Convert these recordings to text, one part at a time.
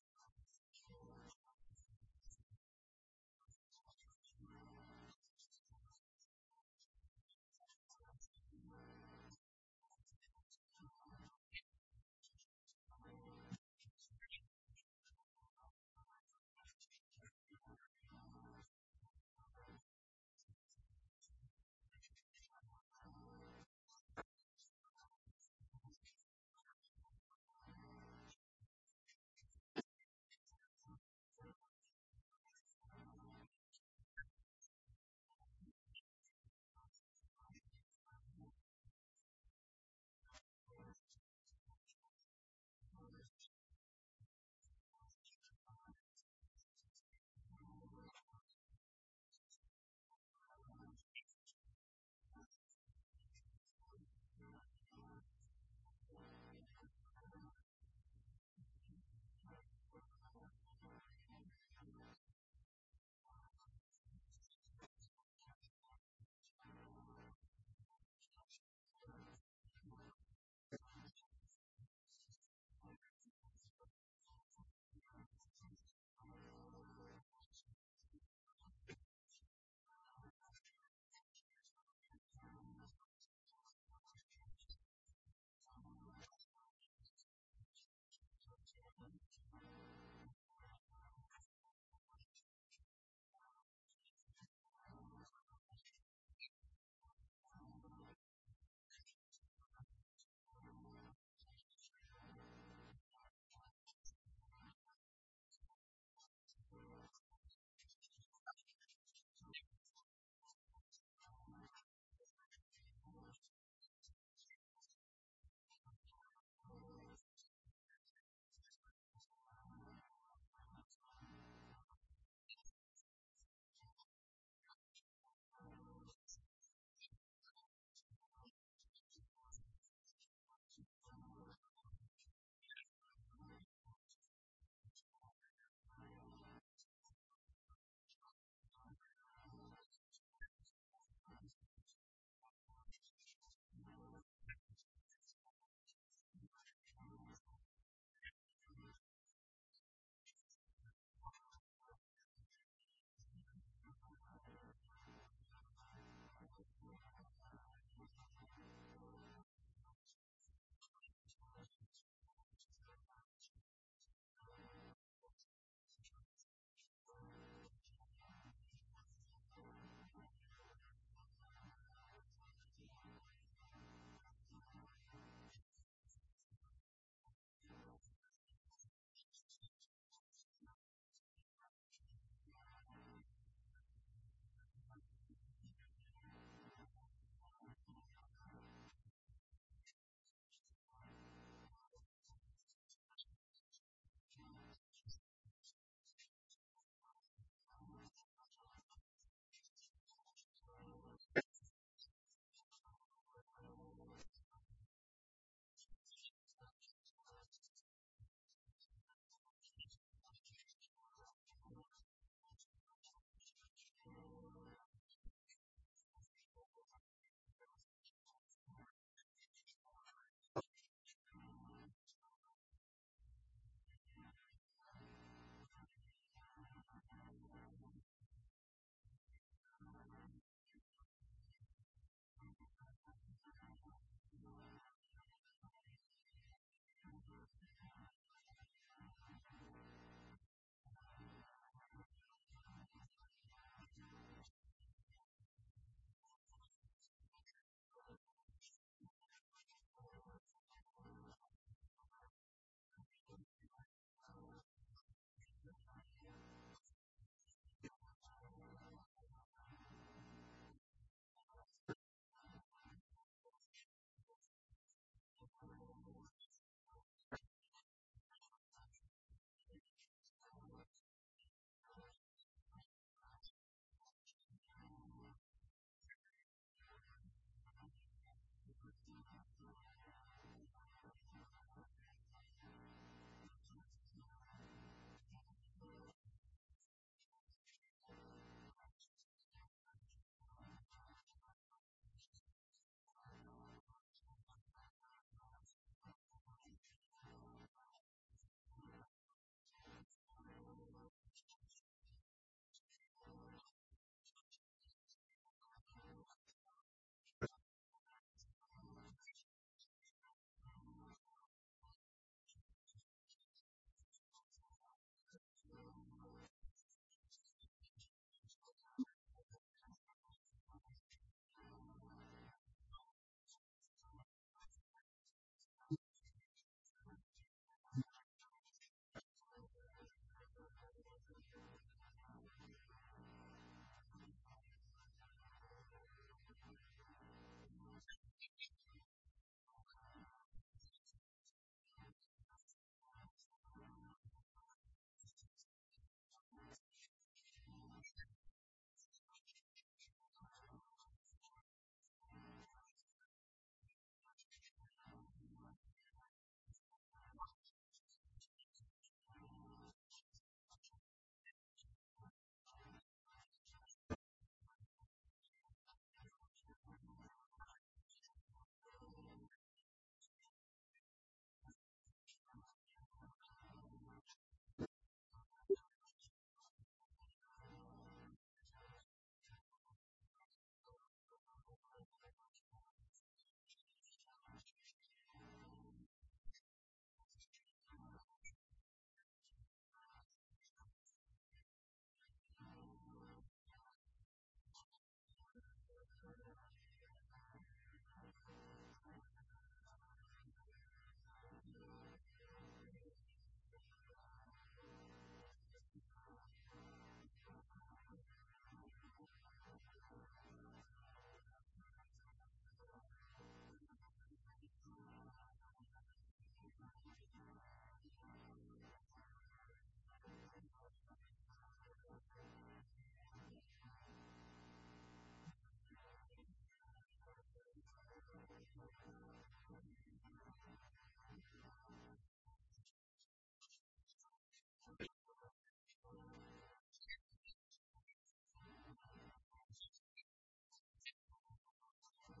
The Well, let's get started. So we're going to talk about how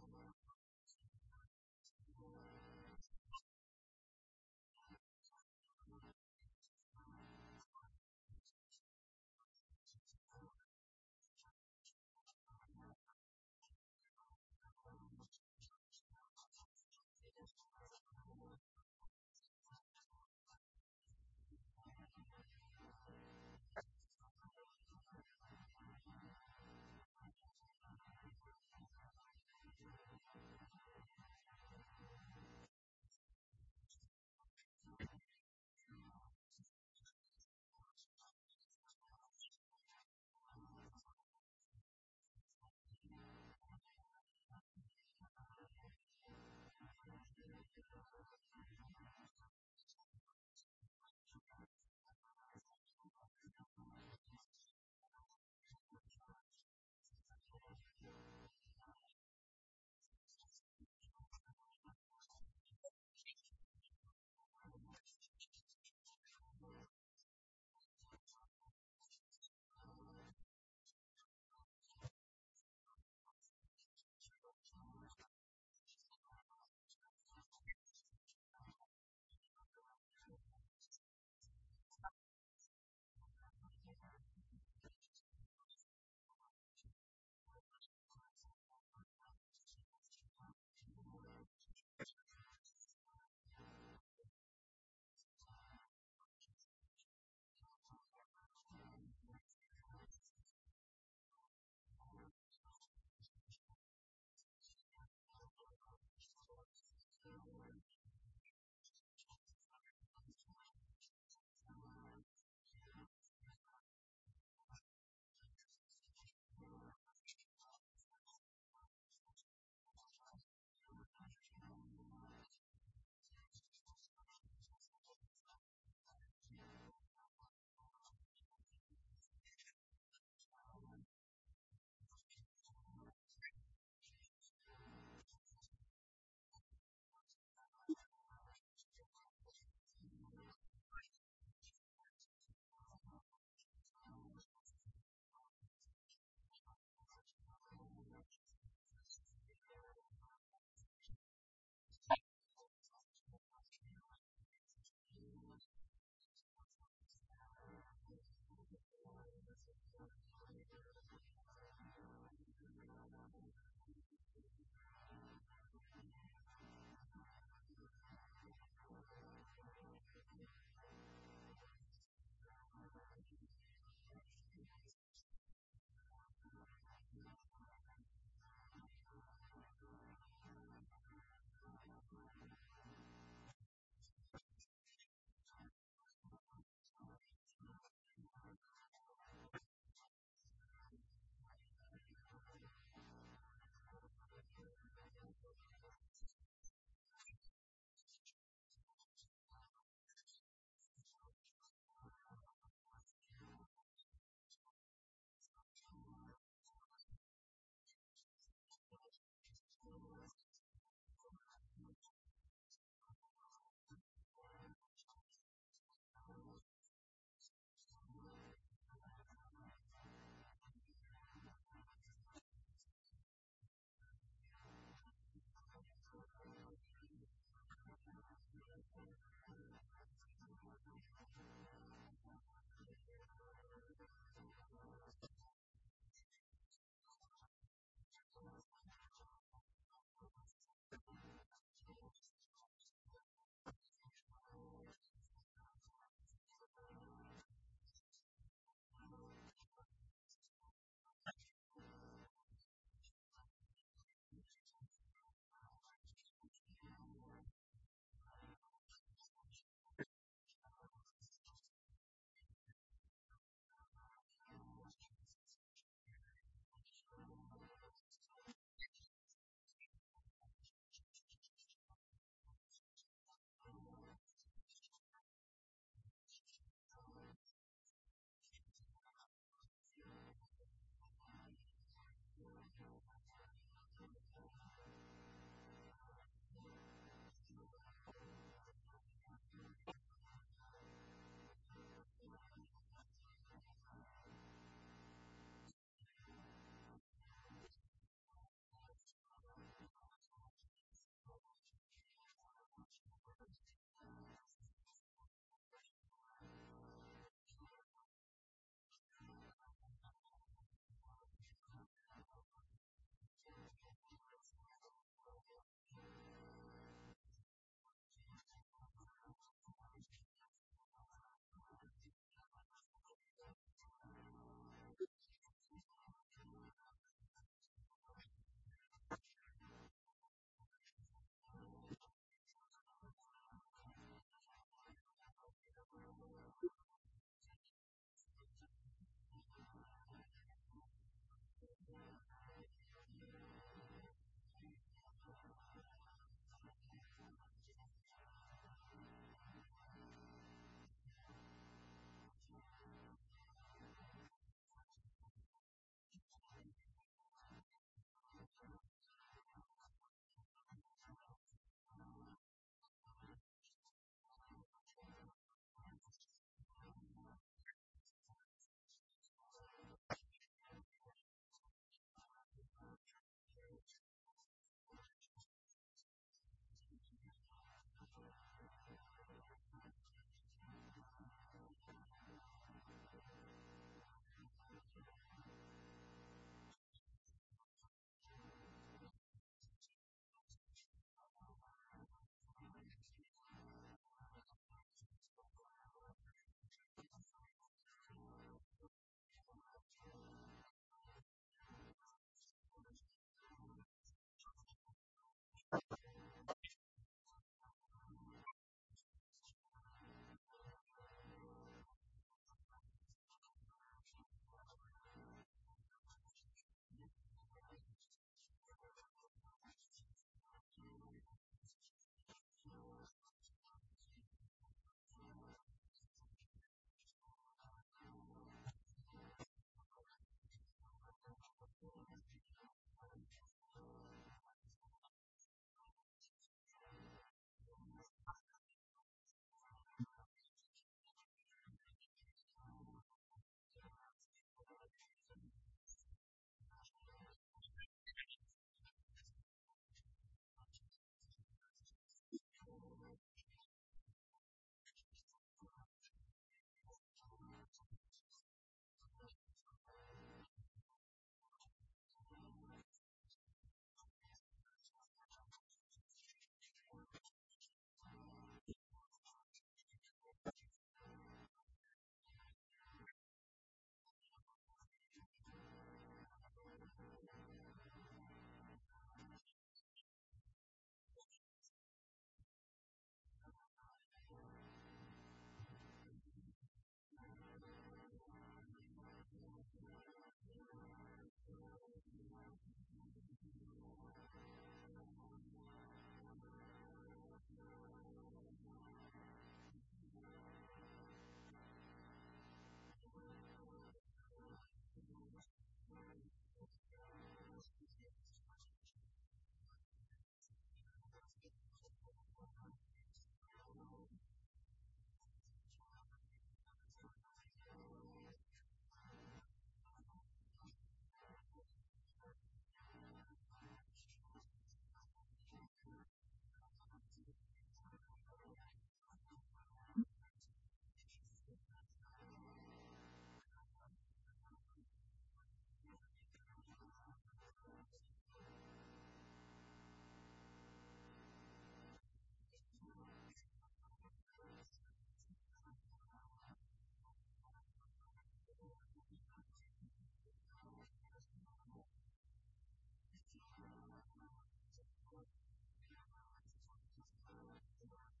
to make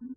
money with